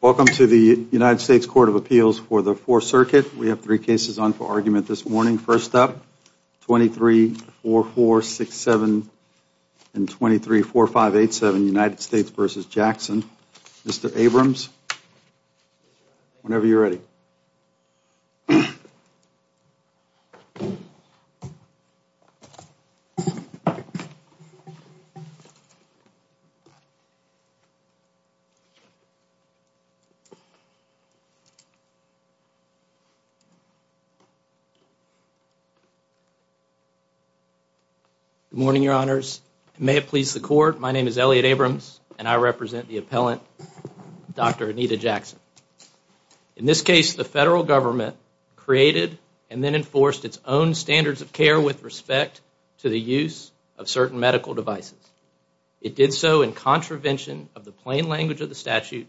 Welcome to the United States Court of Appeals for the Fourth Circuit. We have three cases on for argument this morning. First up, 23-4467 and 23-4587, United States v. Jackson. Mr. Good morning, Your Honors. May it please the Court, my name is Elliot Abrams and I represent the appellant, Dr. Anita Jackson. In this case, the Federal Government created and then enforced its own standards of care with respect to the use of certain medical devices. It did so in contravention of the plain language of the statute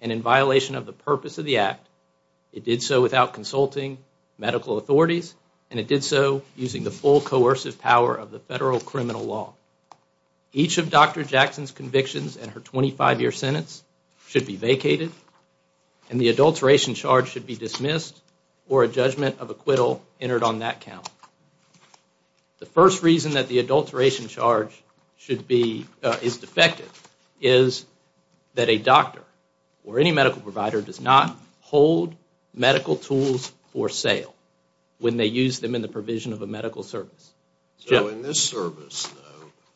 and in violation of the purpose of the Act. It did so without consulting medical authorities and it did so using the full coercive power of the Federal criminal law. Each of Dr. Jackson's convictions and her 25-year sentence should be vacated and the adulteration charge should be dismissed or a judgment of acquittal entered on that count. The first reason that the adulteration charge is defective is that a doctor or any medical provider does not hold medical tools for sale when they use them in the provision of a medical service. So, in this service, though,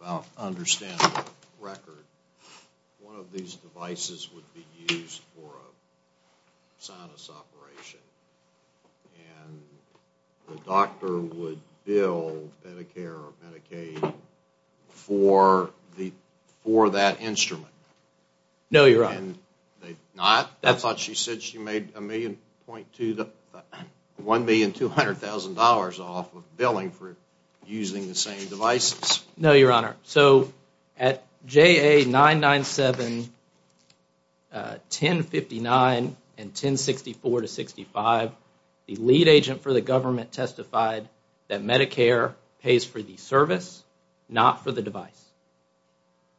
about understand the record, one of these devices would be used for a sinus operation and the doctor would bill Medicare or Medicaid for that instrument? No, Your Honor. I thought she said she made $1,200,000 off of billing for using the same devices. No, Your Honor. So, at JA 997-1059 and 1064-65, the lead agent for the government testified that Medicare pays for the service, not for the device.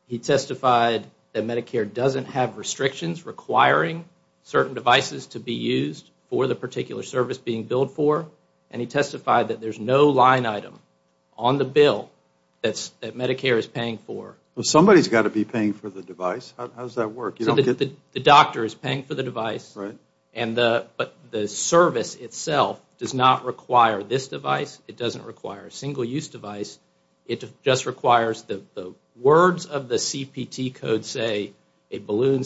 He testified that Medicare doesn't have restrictions requiring certain devices to be used for the particular service being billed for and he testified that there is no line item on the bill that Medicare is paying for. Well, somebody has got to be paying for the device. How does that work? So, the doctor is paying for the device and the service itself does not require this device. It doesn't require a single-use device. It just requires the words of the CPT code, say, a balloon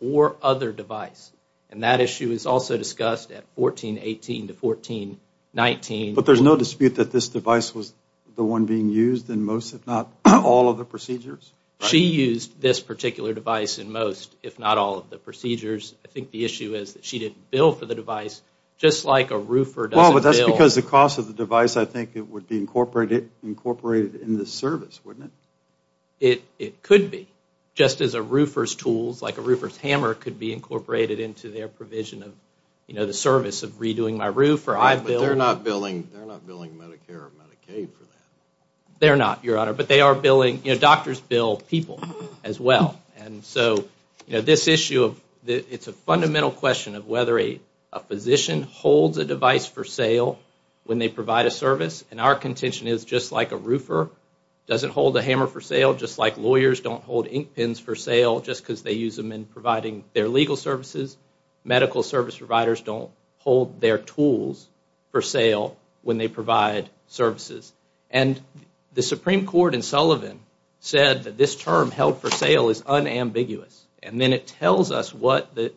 or other device. That issue is also discussed at 1418 to 1419. But there is no dispute that this device was the one being used in most, if not all of the procedures? She used this particular device in most, if not all of the procedures. I think the issue is that she didn't bill for the device, just like a roofer doesn't bill. That's because the cost of the device, I think, would be incorporated in the service, wouldn't it? It could be, just as a roofer's bill. Roofer's tools, like a roofer's hammer, could be incorporated into their provision of, you know, the service of redoing my roof, or I've billed. But they're not billing Medicare or Medicaid for that. They're not, Your Honor, but they are billing, you know, doctors bill people as well. And so, you know, this issue of, it's a fundamental question of whether a physician holds a device for sale when they provide a service. And our contention is, just like a roofer doesn't hold a hammer for sale, just like lawyers don't hold ink pens for sale just because they use them in providing their legal services, medical service providers don't hold their tools for sale when they provide services. And the Supreme Court in Sullivan said that this term, held for sale, is unambiguous. And then it tells us what the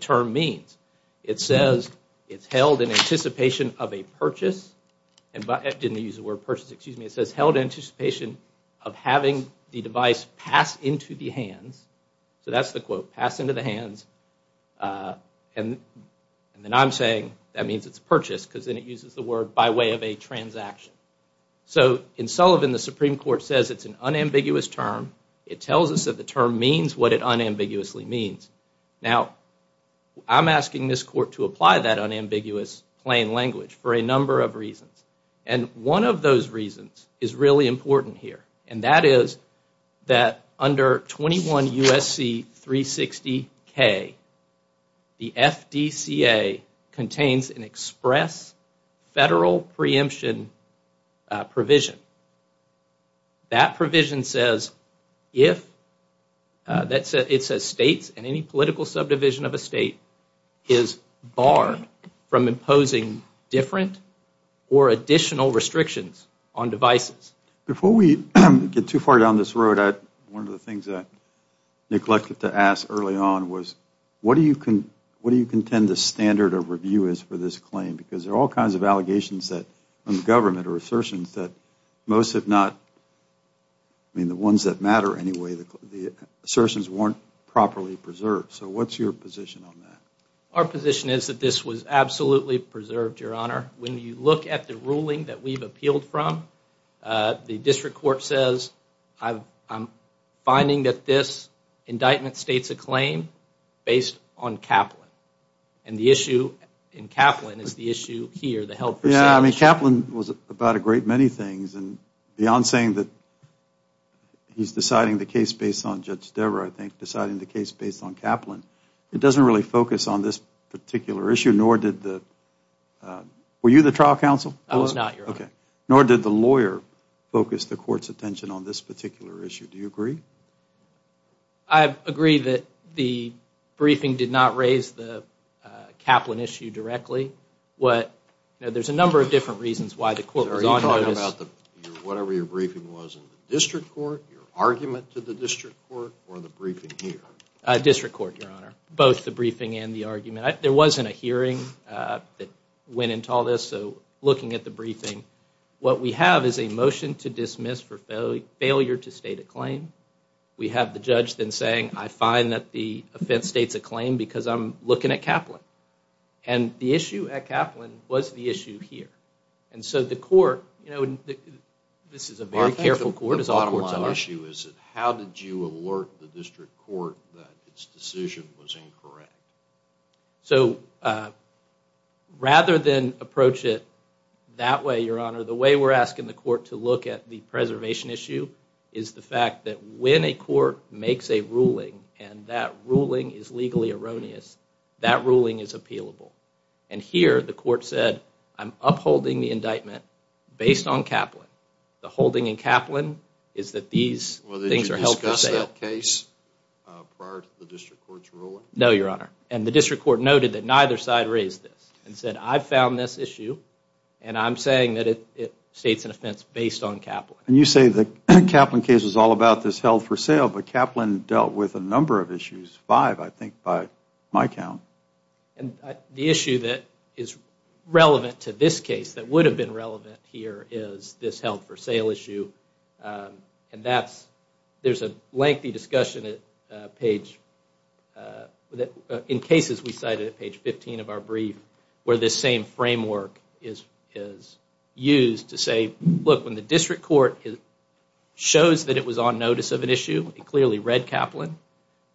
term means. It says, it's held in anticipation of a purchase, didn't use the word purchase, excuse me, it says held in anticipation of having the device passed into the hands. So that's the quote, passed into the hands, and then I'm saying that means it's purchased, because then it uses the word by way of a transaction. So in Sullivan, the Supreme Court says it's an unambiguous term. It tells us that the term means what it unambiguously means. Now, I'm asking this court to apply that unambiguous plain language for a number of reasons. And one of those reasons is really important here, and that is that under 21 U.S.C. 360-K, the FDCA contains an express federal preemption provision. That provision says if, it says states and any political subdivision of a state is barred from imposing different or additional restrictions on devices. Before we get too far down this road, one of the things I neglected to ask early on was, what do you contend the standard of review is for this claim? Because there are all kinds of allegations from the government or assertions that most have not, I mean the ones that matter anyway, the assertions weren't properly preserved. So what's your position on that? Our position is that this was absolutely preserved, Your Honor. When you look at the ruling that we've appealed from, the district court says I'm finding that this indictment states a claim based on Kaplan. And the issue in Kaplan is the issue here, the health percentage. Yeah, I mean Kaplan was about a great many things, and beyond saying that he's deciding the case based on Judge Debra, I think deciding the case based on Kaplan, it doesn't really focus on this particular issue, nor did the, were you the trial counsel? I was not, Your Honor. Nor did the lawyer focus the court's attention on this particular issue. Do you agree? I agree that the briefing did not raise the Kaplan issue directly. What, there's a number of different reasons why the court was on notice. Are you talking about whatever your briefing was in the district court, your argument to the district court, or the briefing here? District court, Your Honor. Both the briefing and the argument. There wasn't a hearing that went into all this, so looking at the briefing, what we have is a motion to dismiss for failure to state a claim. We have the judge then saying, I find that the offense states a claim because I'm looking at Kaplan. And the issue at Kaplan was the issue here. And so the court, you know, this is a very careful court, as all courts are. The bottom line issue is how did you alert the district court that its decision was incorrect? So, rather than approach it that way, Your Honor, the way we're asking the court to look at the preservation issue is the fact that when a court makes a ruling and that ruling is legally erroneous, that ruling is appealable. And here, the court said, I'm upholding the indictment based on Kaplan. The holding in Kaplan is that these things are held for sale. Well, did you discuss that case prior to the district court's ruling? No, Your Honor. And the district court noted that neither side raised this and said, I found this issue and I'm saying that it states an offense based on Kaplan. And you say the Kaplan case is all about this held for sale, but Kaplan dealt with a number of issues, five, I think, by my count. And the issue that is relevant to this case that would have been relevant here is this held for sale issue. And that's, there's a lengthy discussion at page, in cases we cited at page 15 of our brief, where this same framework is used to say, look, when the district court shows that it was on notice of an issue, it clearly read Kaplan,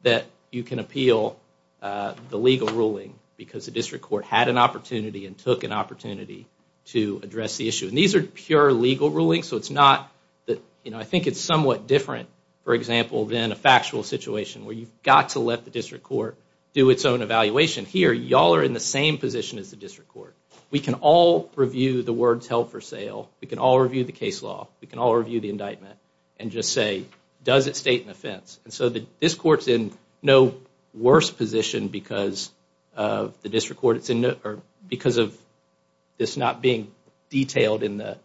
that you can appeal the legal ruling because the district court had an opportunity and took an opportunity to address the issue. And these are pure legal rulings, so it's not, you know, I think it's somewhat different, for example, than a factual situation where you've got to let the district court do its own evaluation. Here, y'all are in the same position as the district court. We can all review the words held for sale. We can all review the case law. We can all review the indictment and just say, does it state an offense? And so this court's in no worse position because of the district court, because of this not being detailed in the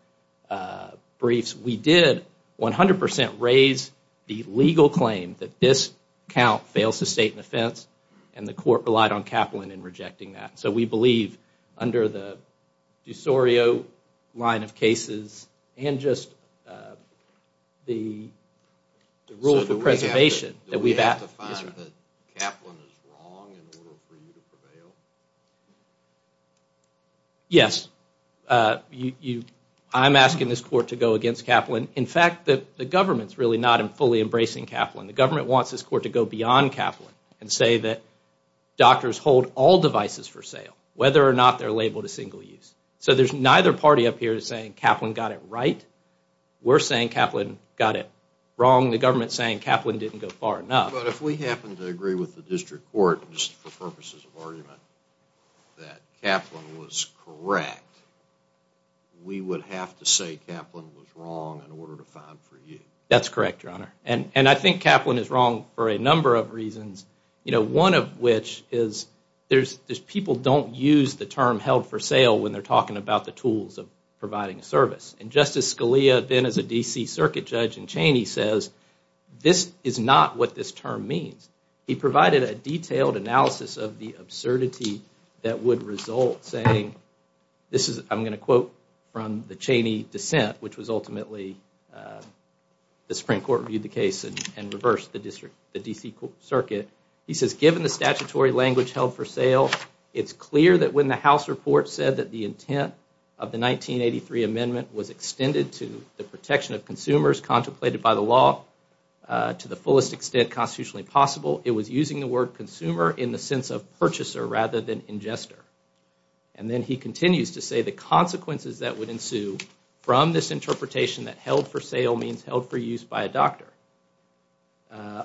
briefs. We did 100% raise the legal claim that this count fails to state an offense, and the court relied on Kaplan in rejecting that. So we believe, under the DuSorio line of cases, and just the rule for preservation, that we've asked... Do we have to find that Kaplan is wrong in order for you to prevail? Yes. I'm asking this court to go against Kaplan. In fact, the government's really not fully embracing Kaplan. The government wants this court to go beyond Kaplan and say that doctors hold all devices for sale, whether or not they're labeled a single use. So there's neither party up here saying Kaplan got it right. We're saying Kaplan got it wrong. The government's saying Kaplan didn't go far enough. But if we happen to agree with the district court, just for purposes of argument, that Kaplan was correct, we would have to say Kaplan was wrong in order to find for you. That's correct, Your Honor. And I think Kaplan is wrong for a number of reasons. One of which is people don't use the term held for sale when they're talking about the tools of providing a service. And Justice Scalia, then as a D.C. Circuit Judge in Cheney, says this is not what this term means. He provided a detailed analysis of the absurdity that would result, saying... I'm going to quote from the Cheney dissent, which was ultimately... The Supreme Court reviewed the case and reversed the D.C. Circuit. He says, given the statutory language held for sale, it's clear that when the House report said that the intent of the 1983 amendment was extended to the protection of consumers contemplated by the law to the fullest extent constitutionally possible, it was using the word consumer in the sense of purchaser rather than ingester. And then he continues to say the consequences that would ensue from this interpretation that held for sale means held for use by a doctor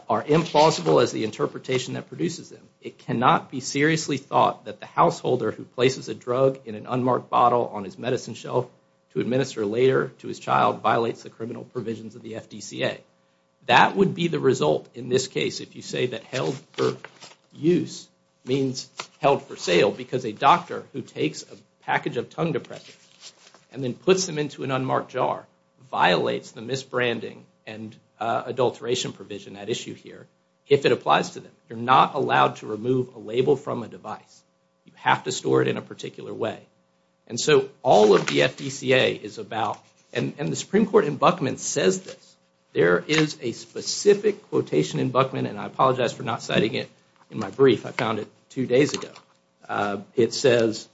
are implausible as the interpretation that produces them. It cannot be seriously thought that the householder who places a drug in an unmarked bottle on his medicine shelf to administer later to his child violates the criminal provisions of the F.D.C.A. That would be the result in this case if you say that held for use means held for sale because a doctor who takes a package of tongue depressants and then puts them into an unmarked jar violates the misbranding and adulteration provision at issue here if it applies to them. You're not allowed to remove a label from a device. You have to store it in a particular way. And so all of the F.D.C.A. is about and the Supreme Court in Buckman says this. There is a specific quotation in Buckman and I apologize for not citing it in my brief. I found it two days ago. It says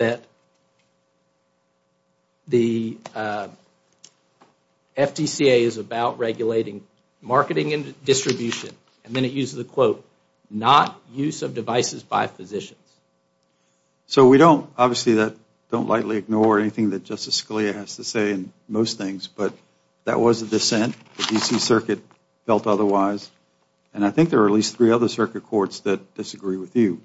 that the F.D.C.A. is about regulating marketing and distribution and then it uses a quote, not use of devices by physicians. So we don't obviously that don't lightly ignore anything that Justice Scalia has to say in most things but that was a dissent. The D.C. Circuit felt otherwise and I think there are at least three other circuit courts that disagree with you.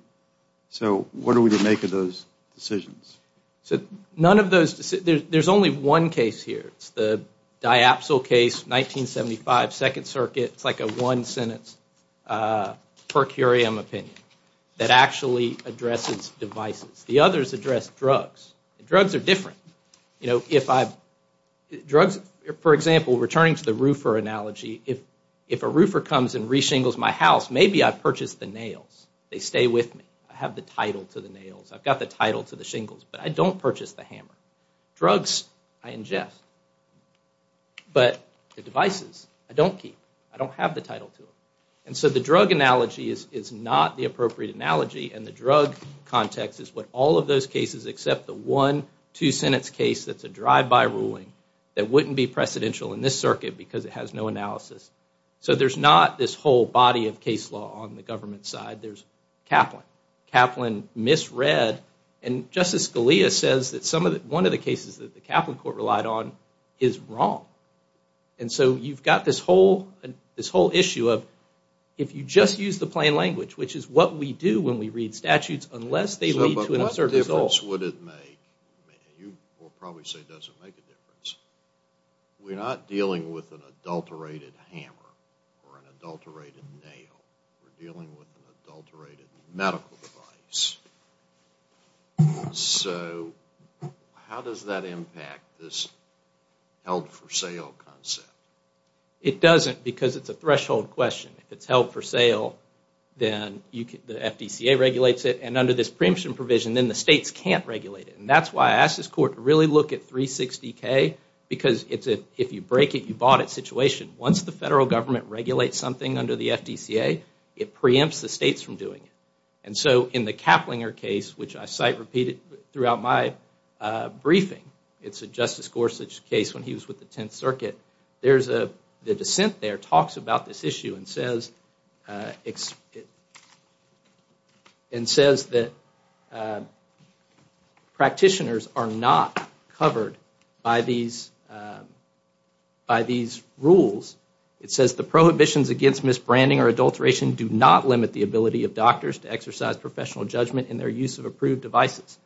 So what are we to make of those decisions? So none of those, there's only one case here. It's the diapsil case 1975 Second Circuit. It's like a one sentence per curiam opinion that actually addresses devices. The others address drugs. Drugs are different. You know, if I, drugs, for example, returning to the roofer analogy, if a roofer comes and re-shingles my house, maybe I purchase the nails. They stay with me. I have the title to the nails. I've got the title to the shingles but I don't purchase the hammer. Drugs, I ingest. But the devices, I don't keep. I don't have the title to them. And so the drug analogy is not the appropriate analogy and the drug context is what all of those cases except the one two sentence case that's a drive-by ruling that wouldn't be precedential in this circuit because it has no analysis. So there's not this whole body of case law on the government side. There's Kaplan. Kaplan misread and Justice Scalia says that one of the cases that the Kaplan court relied on is wrong. And so you've got this whole issue of if you just use the plain language, which is what we do when we read statutes unless they lead to an absurd result. What else would it make? You will probably say it doesn't make a difference. We're not dealing with an adulterated hammer or an adulterated nail. We're dealing with an adulterated medical device. So how does that impact this held for sale concept? It doesn't because it's a threshold question. If it's held for sale, then the FDCA regulates it. And under this preemption provision, then the states can't regulate it. And that's why I asked this court to really look at 360K because if you break it, you bought it situation. Once the federal government regulates something under the FDCA, it preempts the states from doing it. And so in the Kaplinger case, which I cite repeatedly throughout my briefing, it's a Justice Gorsuch case when he was with the Tenth Circuit. The dissent there talks about this issue and says that practitioners are not covered by these rules. It says the prohibitions against misbranding or adulteration do not limit the ability of doctors to exercise professional judgment in their use of approved devices.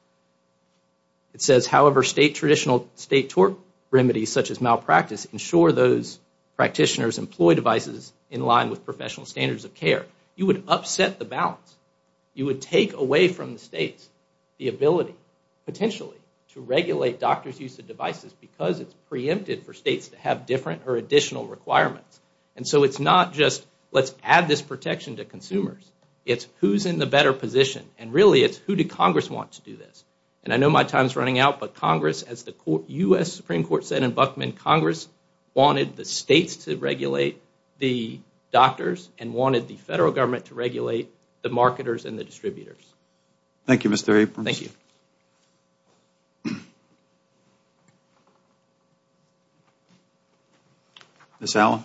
It says, however, state tort remedies such as malpractice ensure those practitioners employ devices in line with professional standards of care. You would upset the balance. You would take away from the states the ability potentially to regulate doctors' use of devices because it's preempted for states to have different or additional requirements. And so it's not just let's add this protection to consumers. It's who's in the better position. And really, it's who did Congress want to do this. And I know my time is running out, but Congress, as the U.S. Supreme Court said in Buckman, Congress wanted the states to regulate the doctors and wanted the federal government to regulate the marketers and the distributors. Thank you, Mr. Abrams. Thank you. Ms. Allen.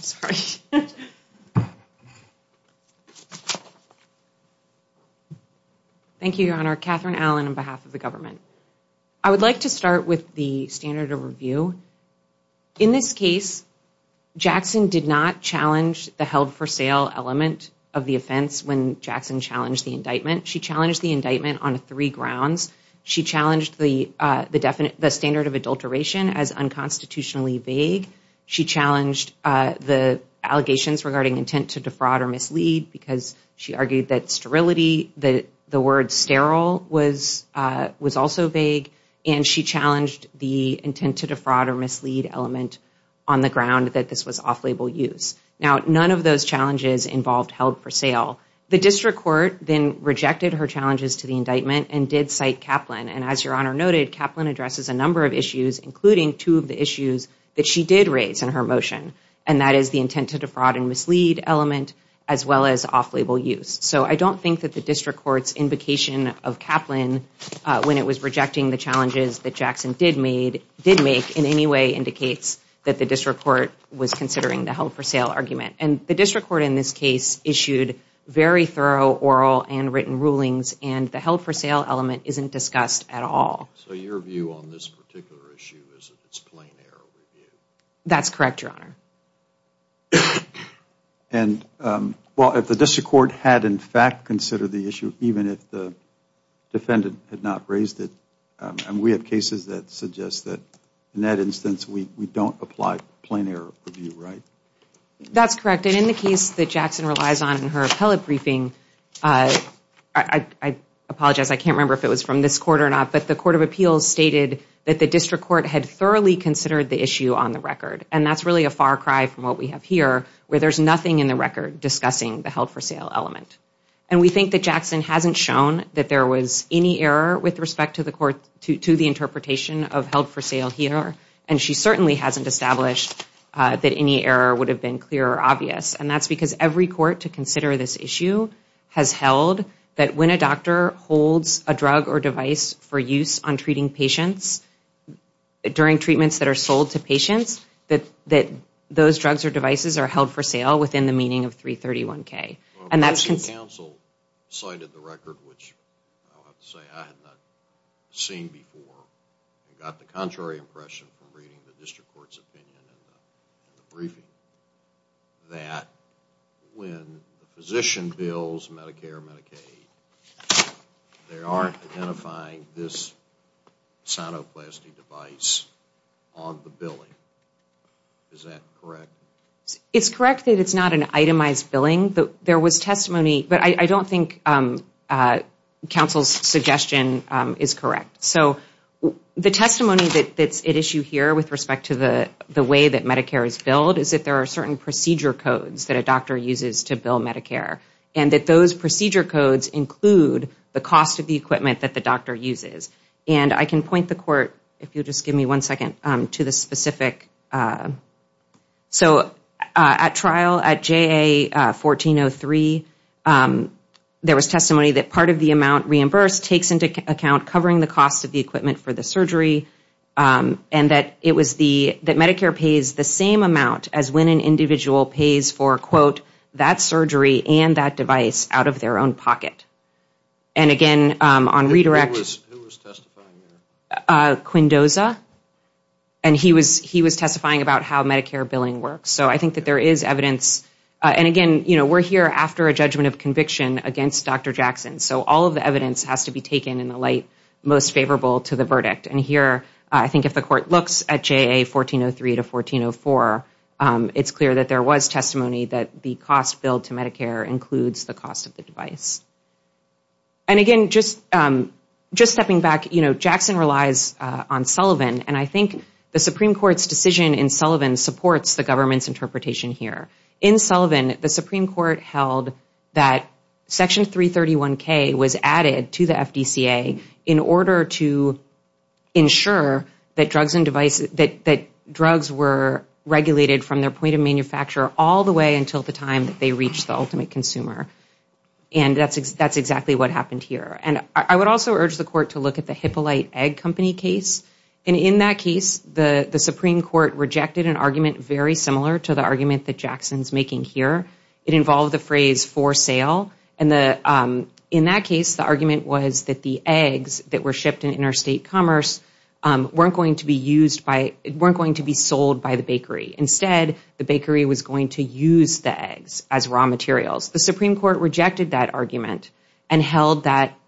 Sorry. Thank you, Your Honor. Katherine Allen on behalf of the government. I would like to start with the standard of review. In this case, Jackson did not challenge the held for sale element of the offense when Jackson challenged the indictment. She challenged the indictment on three grounds. She challenged the standard of adulteration as unconstitutionally vague. She challenged the allegations regarding intent to defraud or mislead because she argued that sterility, the word sterile, was also vague. And she challenged the intent to defraud or mislead element on the ground that this was off-label use. Now, none of those challenges involved held for sale. The district court then rejected her challenges to the indictment and did cite Kaplan. And as Your Honor noted, Kaplan addresses a number of issues, including two of the issues that she did raise in her motion. And that is the intent to defraud and mislead element as well as off-label use. So I don't think that the district court's invocation of Kaplan, when it was rejecting the challenges that Jackson did make, in any way indicates that the district court was considering the held for sale argument. And the district court in this case issued very thorough oral and written rulings. And the held for sale element isn't discussed at all. So your view on this particular issue is that it's plain error review? That's correct, Your Honor. And, well, if the district court had in fact considered the issue, even if the defendant had not raised it, and we have cases that suggest that in that instance we don't apply plain error review, right? That's correct. And in the case that Jackson relies on in her appellate briefing, I apologize, I can't remember if it was from this court or not, but the court of appeals stated that the district court had thoroughly considered the issue on the record. And that's really a far cry from what we have here, where there's nothing in the record discussing the held for sale element. And we think that Jackson hasn't shown that there was any error with respect to the interpretation of held for sale here, and she certainly hasn't established that any error would have been clear or obvious. And that's because every court to consider this issue has held that when a doctor holds a drug or device for use on treating patients, during treatments that are sold to patients, that those drugs or devices are held for sale within the meaning of 331K. And that's... Well, the district council cited the record, which I'll have to say I had not seen before, and got the contrary impression from reading the district court's opinion in the briefing, that when a physician bills Medicare or Medicaid, they aren't identifying this cytoplasty device on the billing. Is that correct? It's correct that it's not an itemized billing. There was testimony, but I don't think counsel's suggestion is correct. So the testimony that's at issue here with respect to the way that Medicare is billed is that there are certain procedure codes that a doctor uses to bill Medicare, and that those procedure codes include the cost of the equipment that the doctor uses. And I can point the court, if you'll just give me one second, to the specific... So at trial, at JA1403, there was testimony that part of the amount reimbursed takes into account covering the cost of the equipment for the surgery, and that Medicare pays the same amount as when an individual pays for, quote, that surgery and that device out of their own pocket. And again, on redirection... Who was testifying there? Quindosa. And he was testifying about how Medicare billing works. So I think that there is evidence. And again, we're here after a judgment of conviction against Dr. Jackson, so all of the evidence has to be taken in the light most favorable to the verdict. And here, I think if the court looks at JA1403 to 1404, it's clear that there was testimony that the cost billed to Medicare includes the cost of the device. And again, just stepping back, you know, Jackson relies on Sullivan, and I think the Supreme Court's decision in Sullivan supports the government's interpretation here. In Sullivan, the Supreme Court held that Section 331K was added to the FDCA in order to ensure that drugs were regulated from their point of manufacture all the way until the time that they reached the ultimate consumer. And that's exactly what happened here. And I would also urge the court to look at the Hippolyte Egg Company case. And in that case, the Supreme Court rejected an argument very similar to the argument that Jackson's making here. It involved the phrase for sale. And in that case, the argument was that the eggs that were shipped in interstate commerce weren't going to be sold by the bakery. Instead, the bakery was going to use the eggs as raw materials. The Supreme Court rejected that argument and held that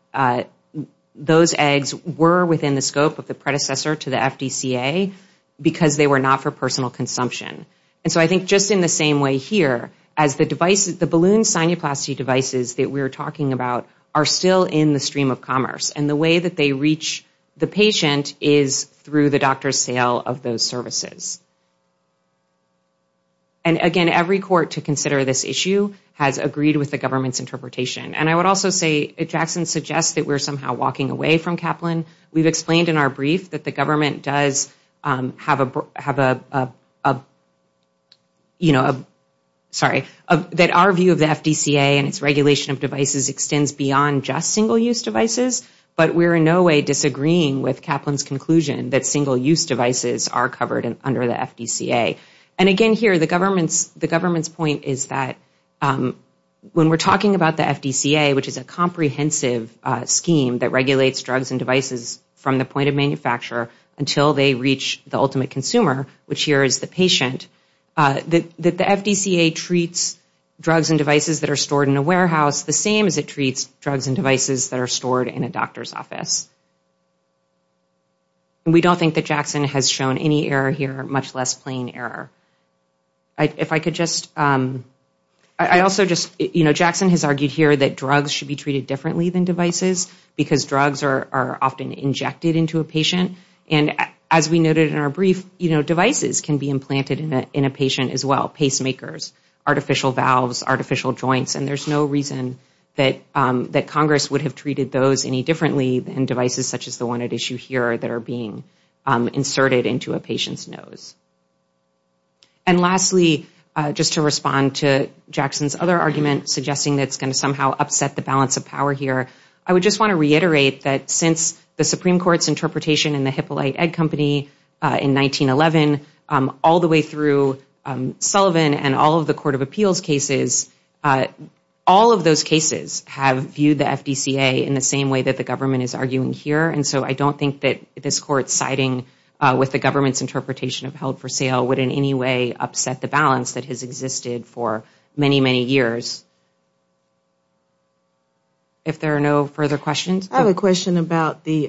those eggs were within the scope of the predecessor to the FDCA because they were not for personal consumption. And so I think just in the same way here, as the balloon sinuplasty devices that we're talking about are still in the stream of commerce. And the way that they reach the patient is through the doctor's sale of those services. And again, every court to consider this issue has agreed with the government's interpretation. And I would also say Jackson suggests that we're somehow walking away from Kaplan. We've explained in our brief that the government does have a, you know, sorry, that our view of the FDCA and its regulation of devices extends beyond just single-use devices. But we're in no way disagreeing with Kaplan's conclusion that single-use devices are covered under the FDCA. And again here, the government's point is that when we're talking about the FDCA, which is a comprehensive scheme that regulates drugs and devices from the point of manufacture until they reach the ultimate consumer, which here is the patient, that the FDCA treats drugs and devices that are stored in a warehouse the same as it treats drugs and devices that are stored in a doctor's office. And we don't think that Jackson has shown any error here, much less plain error. If I could just, I also just, you know, Jackson has argued here that drugs should be treated differently than devices because drugs are often injected into a patient. And as we noted in our brief, you know, devices can be implanted in a patient as well, pacemakers, artificial valves, artificial joints. And there's no reason that Congress would have treated those any differently than devices such as the one at issue here that are being inserted into a patient's nose. And lastly, just to respond to Jackson's other argument suggesting that it's going to somehow upset the balance of power here, I would just want to reiterate that since the Supreme Court's interpretation in the Hippolyte Egg Company in 1911, all the way through Sullivan and all of the court of appeals cases, all of those cases have viewed the FDCA in the same way that the government is arguing here. And so I don't think that this court's siding with the government's interpretation of held for sale would in any way upset the balance that has existed for many, many years. If there are no further questions. I have a question about the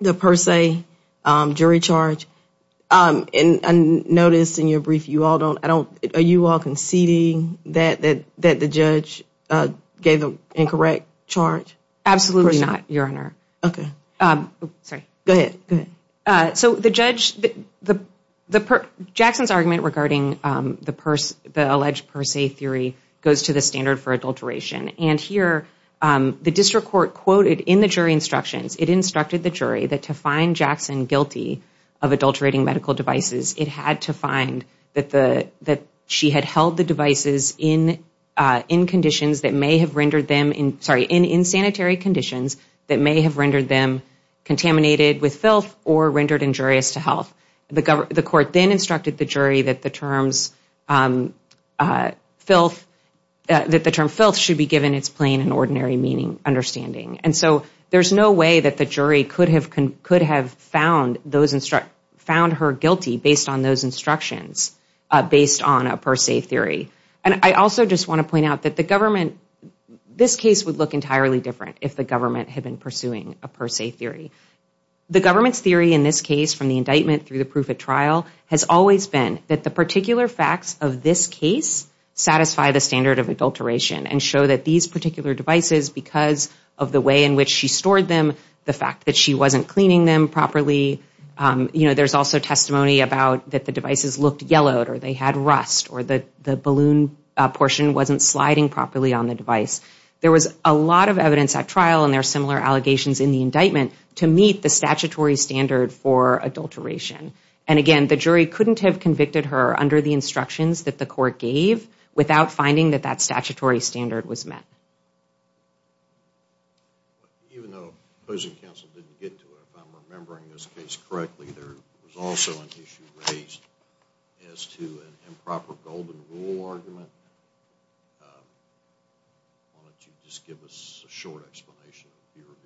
per se jury charge. And I noticed in your brief you all don't, are you all conceding that the judge gave an incorrect charge? Absolutely not, Your Honor. Okay. Sorry. Go ahead. So the judge, Jackson's argument regarding the alleged per se theory goes to the standard for adulteration. And here the district court quoted in the jury instructions, it instructed the jury that to find Jackson guilty of adulterating medical devices, it had to find that she had held the devices in conditions that may have rendered them, sorry, in sanitary conditions that may have rendered them contaminated with filth or rendered injurious to health. The court then instructed the jury that the terms filth, that the term filth should be given its plain and ordinary meaning, understanding. And so there's no way that the jury could have found her guilty based on those instructions, based on a per se theory. And I also just want to point out that the government, this case would look entirely different if the government had been pursuing a per se theory. The government's theory in this case from the indictment through the proof at trial has always been that the particular facts of this case satisfy the standard of adulteration and show that these particular devices, because of the way in which she stored them, the fact that she wasn't cleaning them properly. You know, there's also testimony about that the devices looked yellowed or they had rust or the balloon portion wasn't sliding properly on the device. There was a lot of evidence at trial and there are similar allegations in the indictment to meet the statutory standard for adulteration. And again, the jury couldn't have convicted her under the instructions that the court gave without finding that that statutory standard was met. Even though opposing counsel didn't get to it, if I'm remembering this case correctly, there was also an issue raised as to an improper golden rule argument. Why don't you just give us a short explanation of what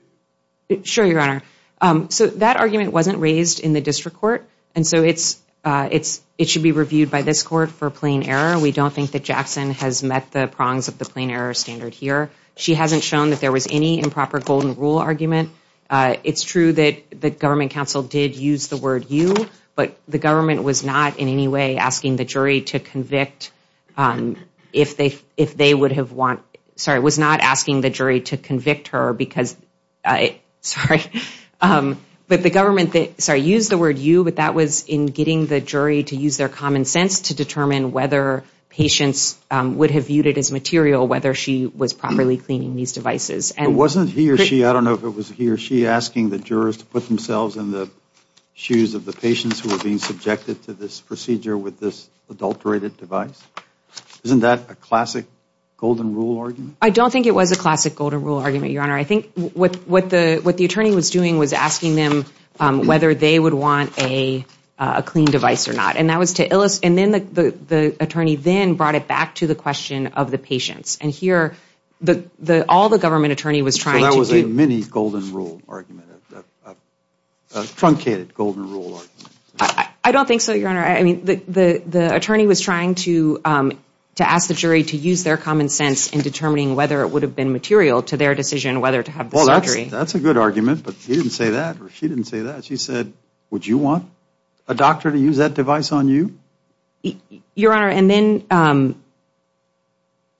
you reviewed? Sure, Your Honor. So that argument wasn't raised in the district court, and so it should be reviewed by this court for plain error. We don't think that Jackson has met the prongs of the plain error standard here. She hasn't shown that there was any improper golden rule argument. It's true that the government counsel did use the word you, but the government was not in any way asking the jury to convict if they would have want, sorry, was not asking the jury to convict her because, sorry, but the government, sorry, used the word you, but that was in getting the jury to use their common sense to determine whether patients would have viewed it as material, whether she was properly cleaning these devices. But wasn't he or she, I don't know if it was he or she, asking the jurors to put themselves in the shoes of the patients who were being subjected to this procedure with this adulterated device? Isn't that a classic golden rule argument? I don't think it was a classic golden rule argument, Your Honor. I think what the attorney was doing was asking them whether they would want a clean device or not, and then the attorney then brought it back to the question of the patients. And here, all the government attorney was trying to do. So that was a mini golden rule argument, a truncated golden rule argument. I don't think so, Your Honor. I mean, the attorney was trying to ask the jury to use their common sense in determining whether it would have been material to their decision whether to have the surgery. Well, that's a good argument, but he didn't say that or she didn't say that. She said, would you want a doctor to use that device on you? Your Honor, and then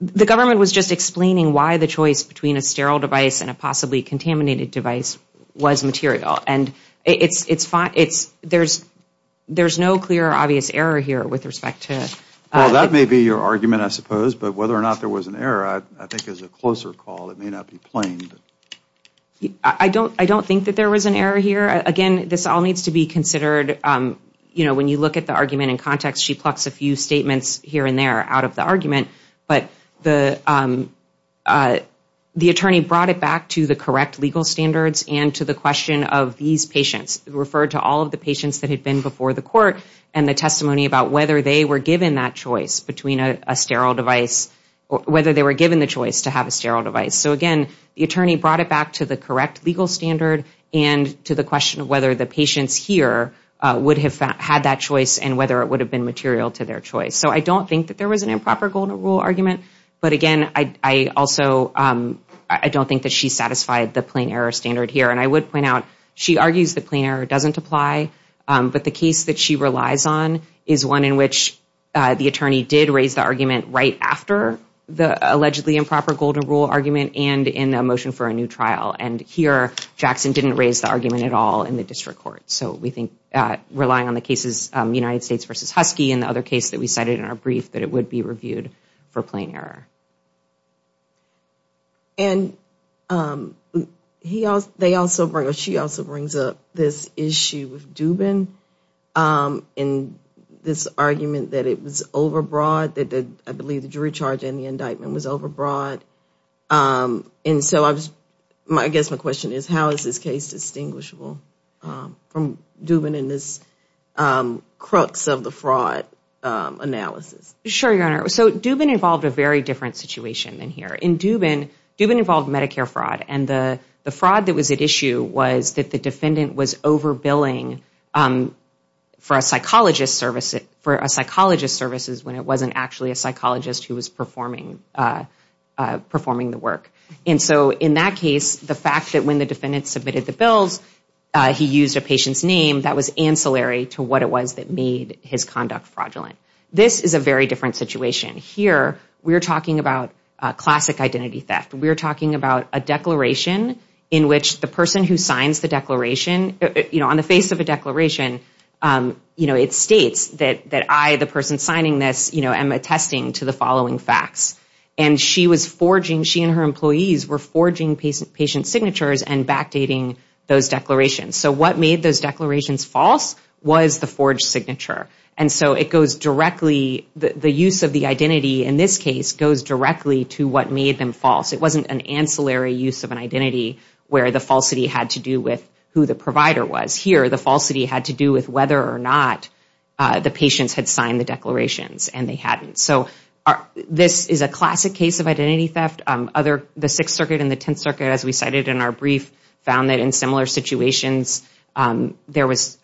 the government was just explaining why the choice between a sterile device and a possibly contaminated device was material. And there's no clear or obvious error here with respect to... Well, that may be your argument, I suppose, but whether or not there was an error, I think is a closer call. It may not be plain. I don't think that there was an error here. Again, this all needs to be considered. You know, when you look at the argument in context, she plucks a few statements here and there out of the argument. But the attorney brought it back to the correct legal standards and to the question of these patients, referred to all of the patients that had been before the court and the testimony about whether they were given that choice between a sterile device, whether they were given the choice to have a sterile device. So, again, the attorney brought it back to the correct legal standard and to the question of whether the patients here would have had that choice and whether it would have been material to their choice. So I don't think that there was an improper golden rule argument. But, again, I also don't think that she satisfied the plain error standard here. And I would point out she argues the plain error doesn't apply, but the case that she relies on is one in which the attorney did raise the argument right after the allegedly improper golden rule argument and in a motion for a new trial. And here, Jackson didn't raise the argument at all in the district court. So we think relying on the cases United States v. Husky and the other case that we cited in our brief, that it would be reviewed for plain error. And she also brings up this issue with Dubin in this argument that it was overbroad, that I believe the jury charge in the indictment was overbroad. And so I guess my question is how is this case distinguishable from Dubin in this crux of the fraud analysis? Sure, Your Honor. So Dubin involved a very different situation than here. In Dubin, Dubin involved Medicare fraud. And the fraud that was at issue was that the defendant was overbilling for a psychologist services when it wasn't actually a psychologist who was performing the work. And so in that case, the fact that when the defendant submitted the bills, he used a patient's name, that was ancillary to what it was that made his conduct fraudulent. This is a very different situation. Here, we're talking about classic identity theft. We're talking about a declaration in which the person who signs the declaration, on the face of a declaration, it states that I, the person signing this, am attesting to the following facts. And she was forging, she and her employees were forging patient signatures and backdating those declarations. So what made those declarations false was the forged signature. And so it goes directly, the use of the identity in this case goes directly to what made them false. It wasn't an ancillary use of an identity where the falsity had to do with who the provider was. Here, the falsity had to do with whether or not the patients had signed the declarations and they hadn't. So this is a classic case of identity theft. The Sixth Circuit and the Tenth Circuit, as we cited in our brief, found that in similar situations there was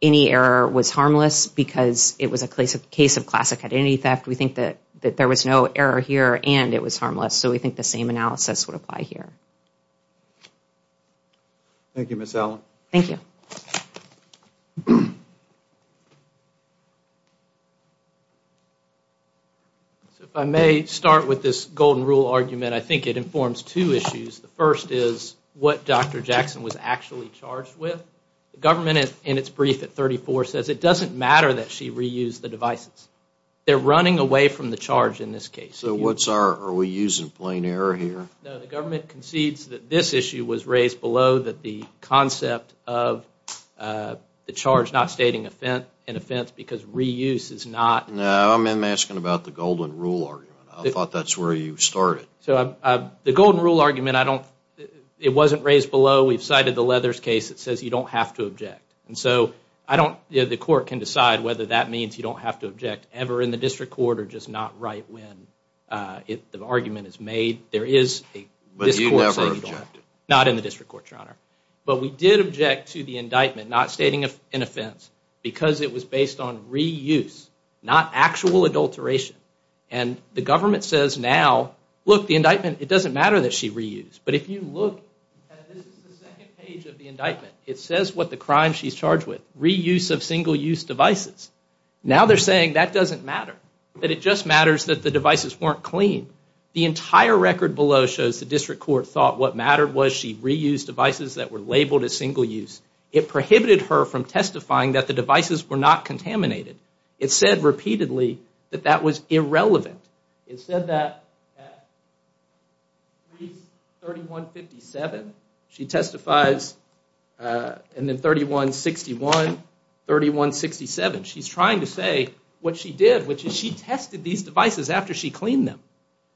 any error was harmless because it was a case of classic identity theft. We think that there was no error here and it was harmless. So we think the same analysis would apply here. Thank you, Ms. Allen. Thank you. If I may start with this golden rule argument, I think it informs two issues. The first is what Dr. Jackson was actually charged with. The government, in its brief at 34, says it doesn't matter that she reused the devices. They're running away from the charge in this case. So what's our, are we using plain error here? No, the government concedes that this issue was raised below that the concept of the charge not stating an offense because reuse is not. No, I'm asking about the golden rule argument. I thought that's where you started. So the golden rule argument, I don't, it wasn't raised below. We've cited the Leathers case that says you don't have to object. And so I don't, the court can decide whether that means you don't have to object ever in the district court or just not right when the argument is made. There is a district court saying you don't have to. But you never objected. Not in the district court, Your Honor. But we did object to the indictment not stating an offense because it was based on reuse, not actual adulteration. And the government says now, look, the indictment, it doesn't matter that she reused. But if you look, this is the second page of the indictment. It says what the crime she's charged with, reuse of single-use devices. Now they're saying that doesn't matter, that it just matters that the devices weren't clean. The entire record below shows the district court thought what mattered was she reused devices that were labeled as single-use. It prohibited her from testifying that the devices were not contaminated. It said repeatedly that that was irrelevant. It said that at 3157, she testifies, and then 3161, 3167. She's trying to say what she did, which is she tested these devices after she cleaned them.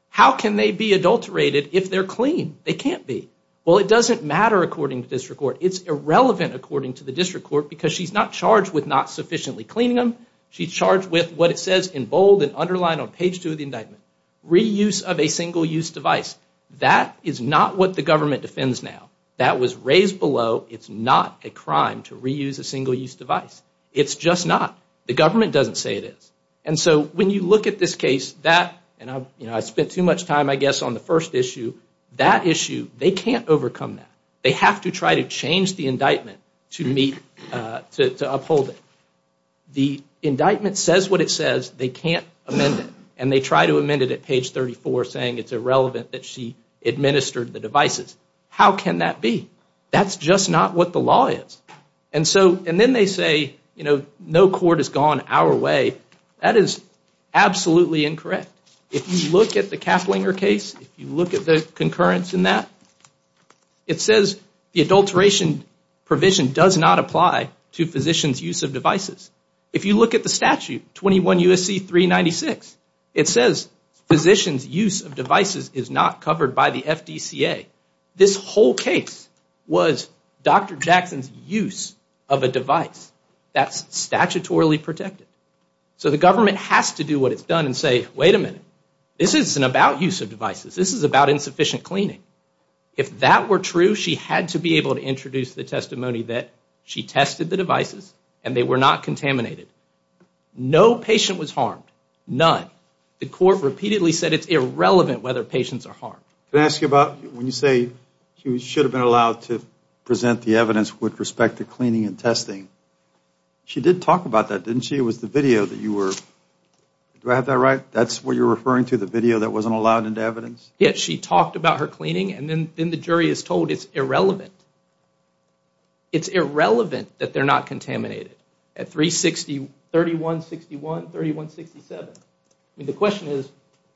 How can they be adulterated if they're clean? They can't be. Well, it doesn't matter according to district court. It's irrelevant according to the district court because she's not charged with not sufficiently cleaning them. She's charged with what it says in bold and underlined on page 2 of the indictment, reuse of a single-use device. That is not what the government defends now. That was raised below. It's not a crime to reuse a single-use device. It's just not. The government doesn't say it is. And so when you look at this case, and I spent too much time, I guess, on the first issue, that issue, they can't overcome that. They have to try to change the indictment to uphold it. The indictment says what it says. They can't amend it, and they try to amend it at page 34 saying it's irrelevant that she administered the devices. How can that be? That's just not what the law is. And then they say, you know, no court has gone our way. That is absolutely incorrect. If you look at the Kaplinger case, if you look at the concurrence in that, it says the adulteration provision does not apply to physicians' use of devices. If you look at the statute, 21 U.S.C. 396, it says physicians' use of devices is not covered by the FDCA. This whole case was Dr. Jackson's use of a device that's statutorily protected. So the government has to do what it's done and say, wait a minute, this isn't about use of devices. This is about insufficient cleaning. If that were true, she had to be able to introduce the testimony that she tested the devices and they were not contaminated. No patient was harmed, none. The court repeatedly said it's irrelevant whether patients are harmed. Can I ask you about when you say she should have been allowed to present the evidence with respect to cleaning and testing. She did talk about that, didn't she? It was the video that you were, do I have that right? That's what you're referring to, the video that wasn't allowed into evidence? Yes, she talked about her cleaning and then the jury is told it's irrelevant. It's irrelevant that they're not contaminated at 360, 3161, 3167. The question is,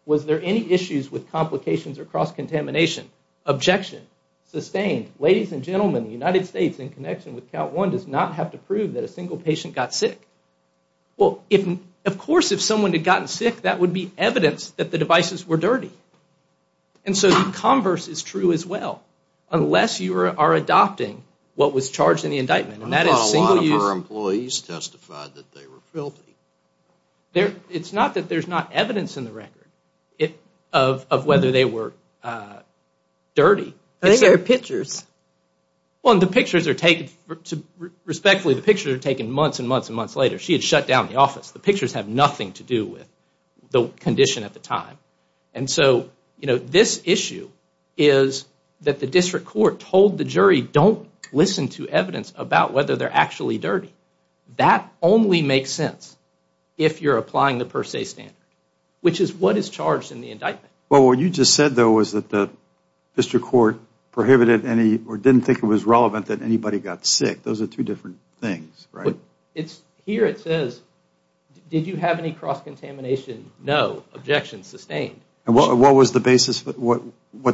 was there any issues with complications or cross-contamination? Objection. Sustained. Ladies and gentlemen, the United States, in connection with count one, does not have to prove that a single patient got sick. Well, of course if someone had gotten sick, that would be evidence that the devices were dirty. And so the converse is true as well. Unless you are adopting what was charged in the indictment. A lot of our employees testified that they were filthy. It's not that there's not evidence in the record of whether they were dirty. But there are pictures. Well, the pictures are taken, respectfully, the pictures are taken months and months and months later. She had shut down the office. The pictures have nothing to do with the condition at the time. And so, you know, this issue is that the district court told the jury, don't listen to evidence about whether they're actually dirty. That only makes sense if you're applying the per se standard, which is what is charged in the indictment. Well, what you just said, though, was that the district court prohibited any, or didn't think it was relevant that anybody got sick. Those are two different things, right? Here it says, did you have any cross-contamination? No. Objection. Sustained. And what was the basis? What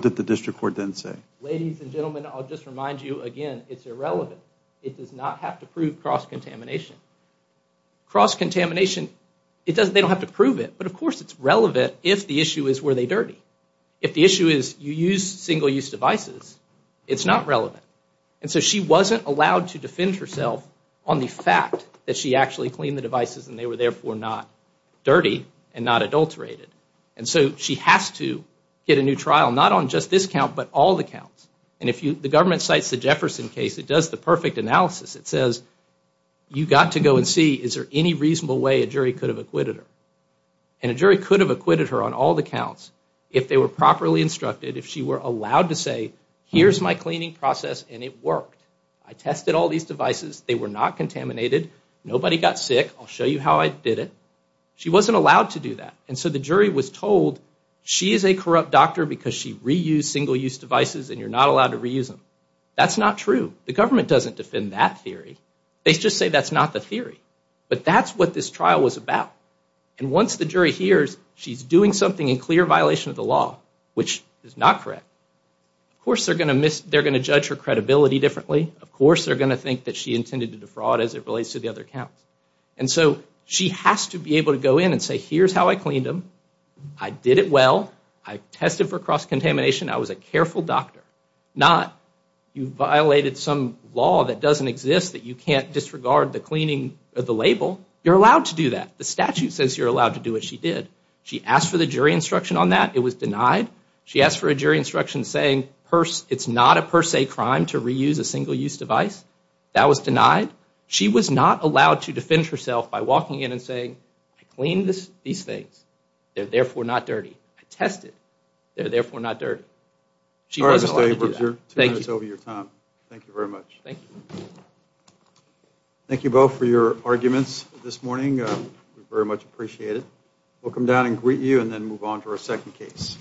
did the district court then say? Ladies and gentlemen, I'll just remind you again, it's irrelevant. It does not have to prove cross-contamination. Cross-contamination, it doesn't, they don't have to prove it, but of course it's relevant if the issue is were they dirty. If the issue is you use single-use devices, it's not relevant. And so she wasn't allowed to defend herself on the fact that she actually cleaned the devices and they were therefore not dirty and not adulterated. And so she has to get a new trial, not on just this count, but all the counts. And if the government cites the Jefferson case, it does the perfect analysis. It says, you've got to go and see, is there any reasonable way a jury could have acquitted her? And a jury could have acquitted her on all the counts if they were properly instructed, if she were allowed to say, here's my cleaning process and it worked. I tested all these devices. They were not contaminated. Nobody got sick. I'll show you how I did it. She wasn't allowed to do that. And so the jury was told, she is a corrupt doctor because she reused single-use devices and you're not allowed to reuse them. That's not true. The government doesn't defend that theory. They just say that's not the theory. But that's what this trial was about. And once the jury hears she's doing something in clear violation of the law, which is not correct, of course they're going to judge her credibility differently. Of course they're going to think that she intended to defraud as it relates to the other counts. And so she has to be able to go in and say, here's how I cleaned them. I did it well. I tested for cross-contamination. I was a careful doctor. Not, you violated some law that doesn't exist that you can't disregard the cleaning of the label. You're allowed to do that. The statute says you're allowed to do what she did. She asked for the jury instruction on that. It was denied. She asked for a jury instruction saying it's not a per se crime to reuse a single-use device. That was denied. She was not allowed to defend herself by walking in and saying, I cleaned these things. They're therefore not dirty. I tested. They're therefore not dirty. She wasn't allowed to do that. Thank you very much. Thank you. Thank you both for your arguments this morning. We very much appreciate it. We'll come down and greet you and then move on to our second case.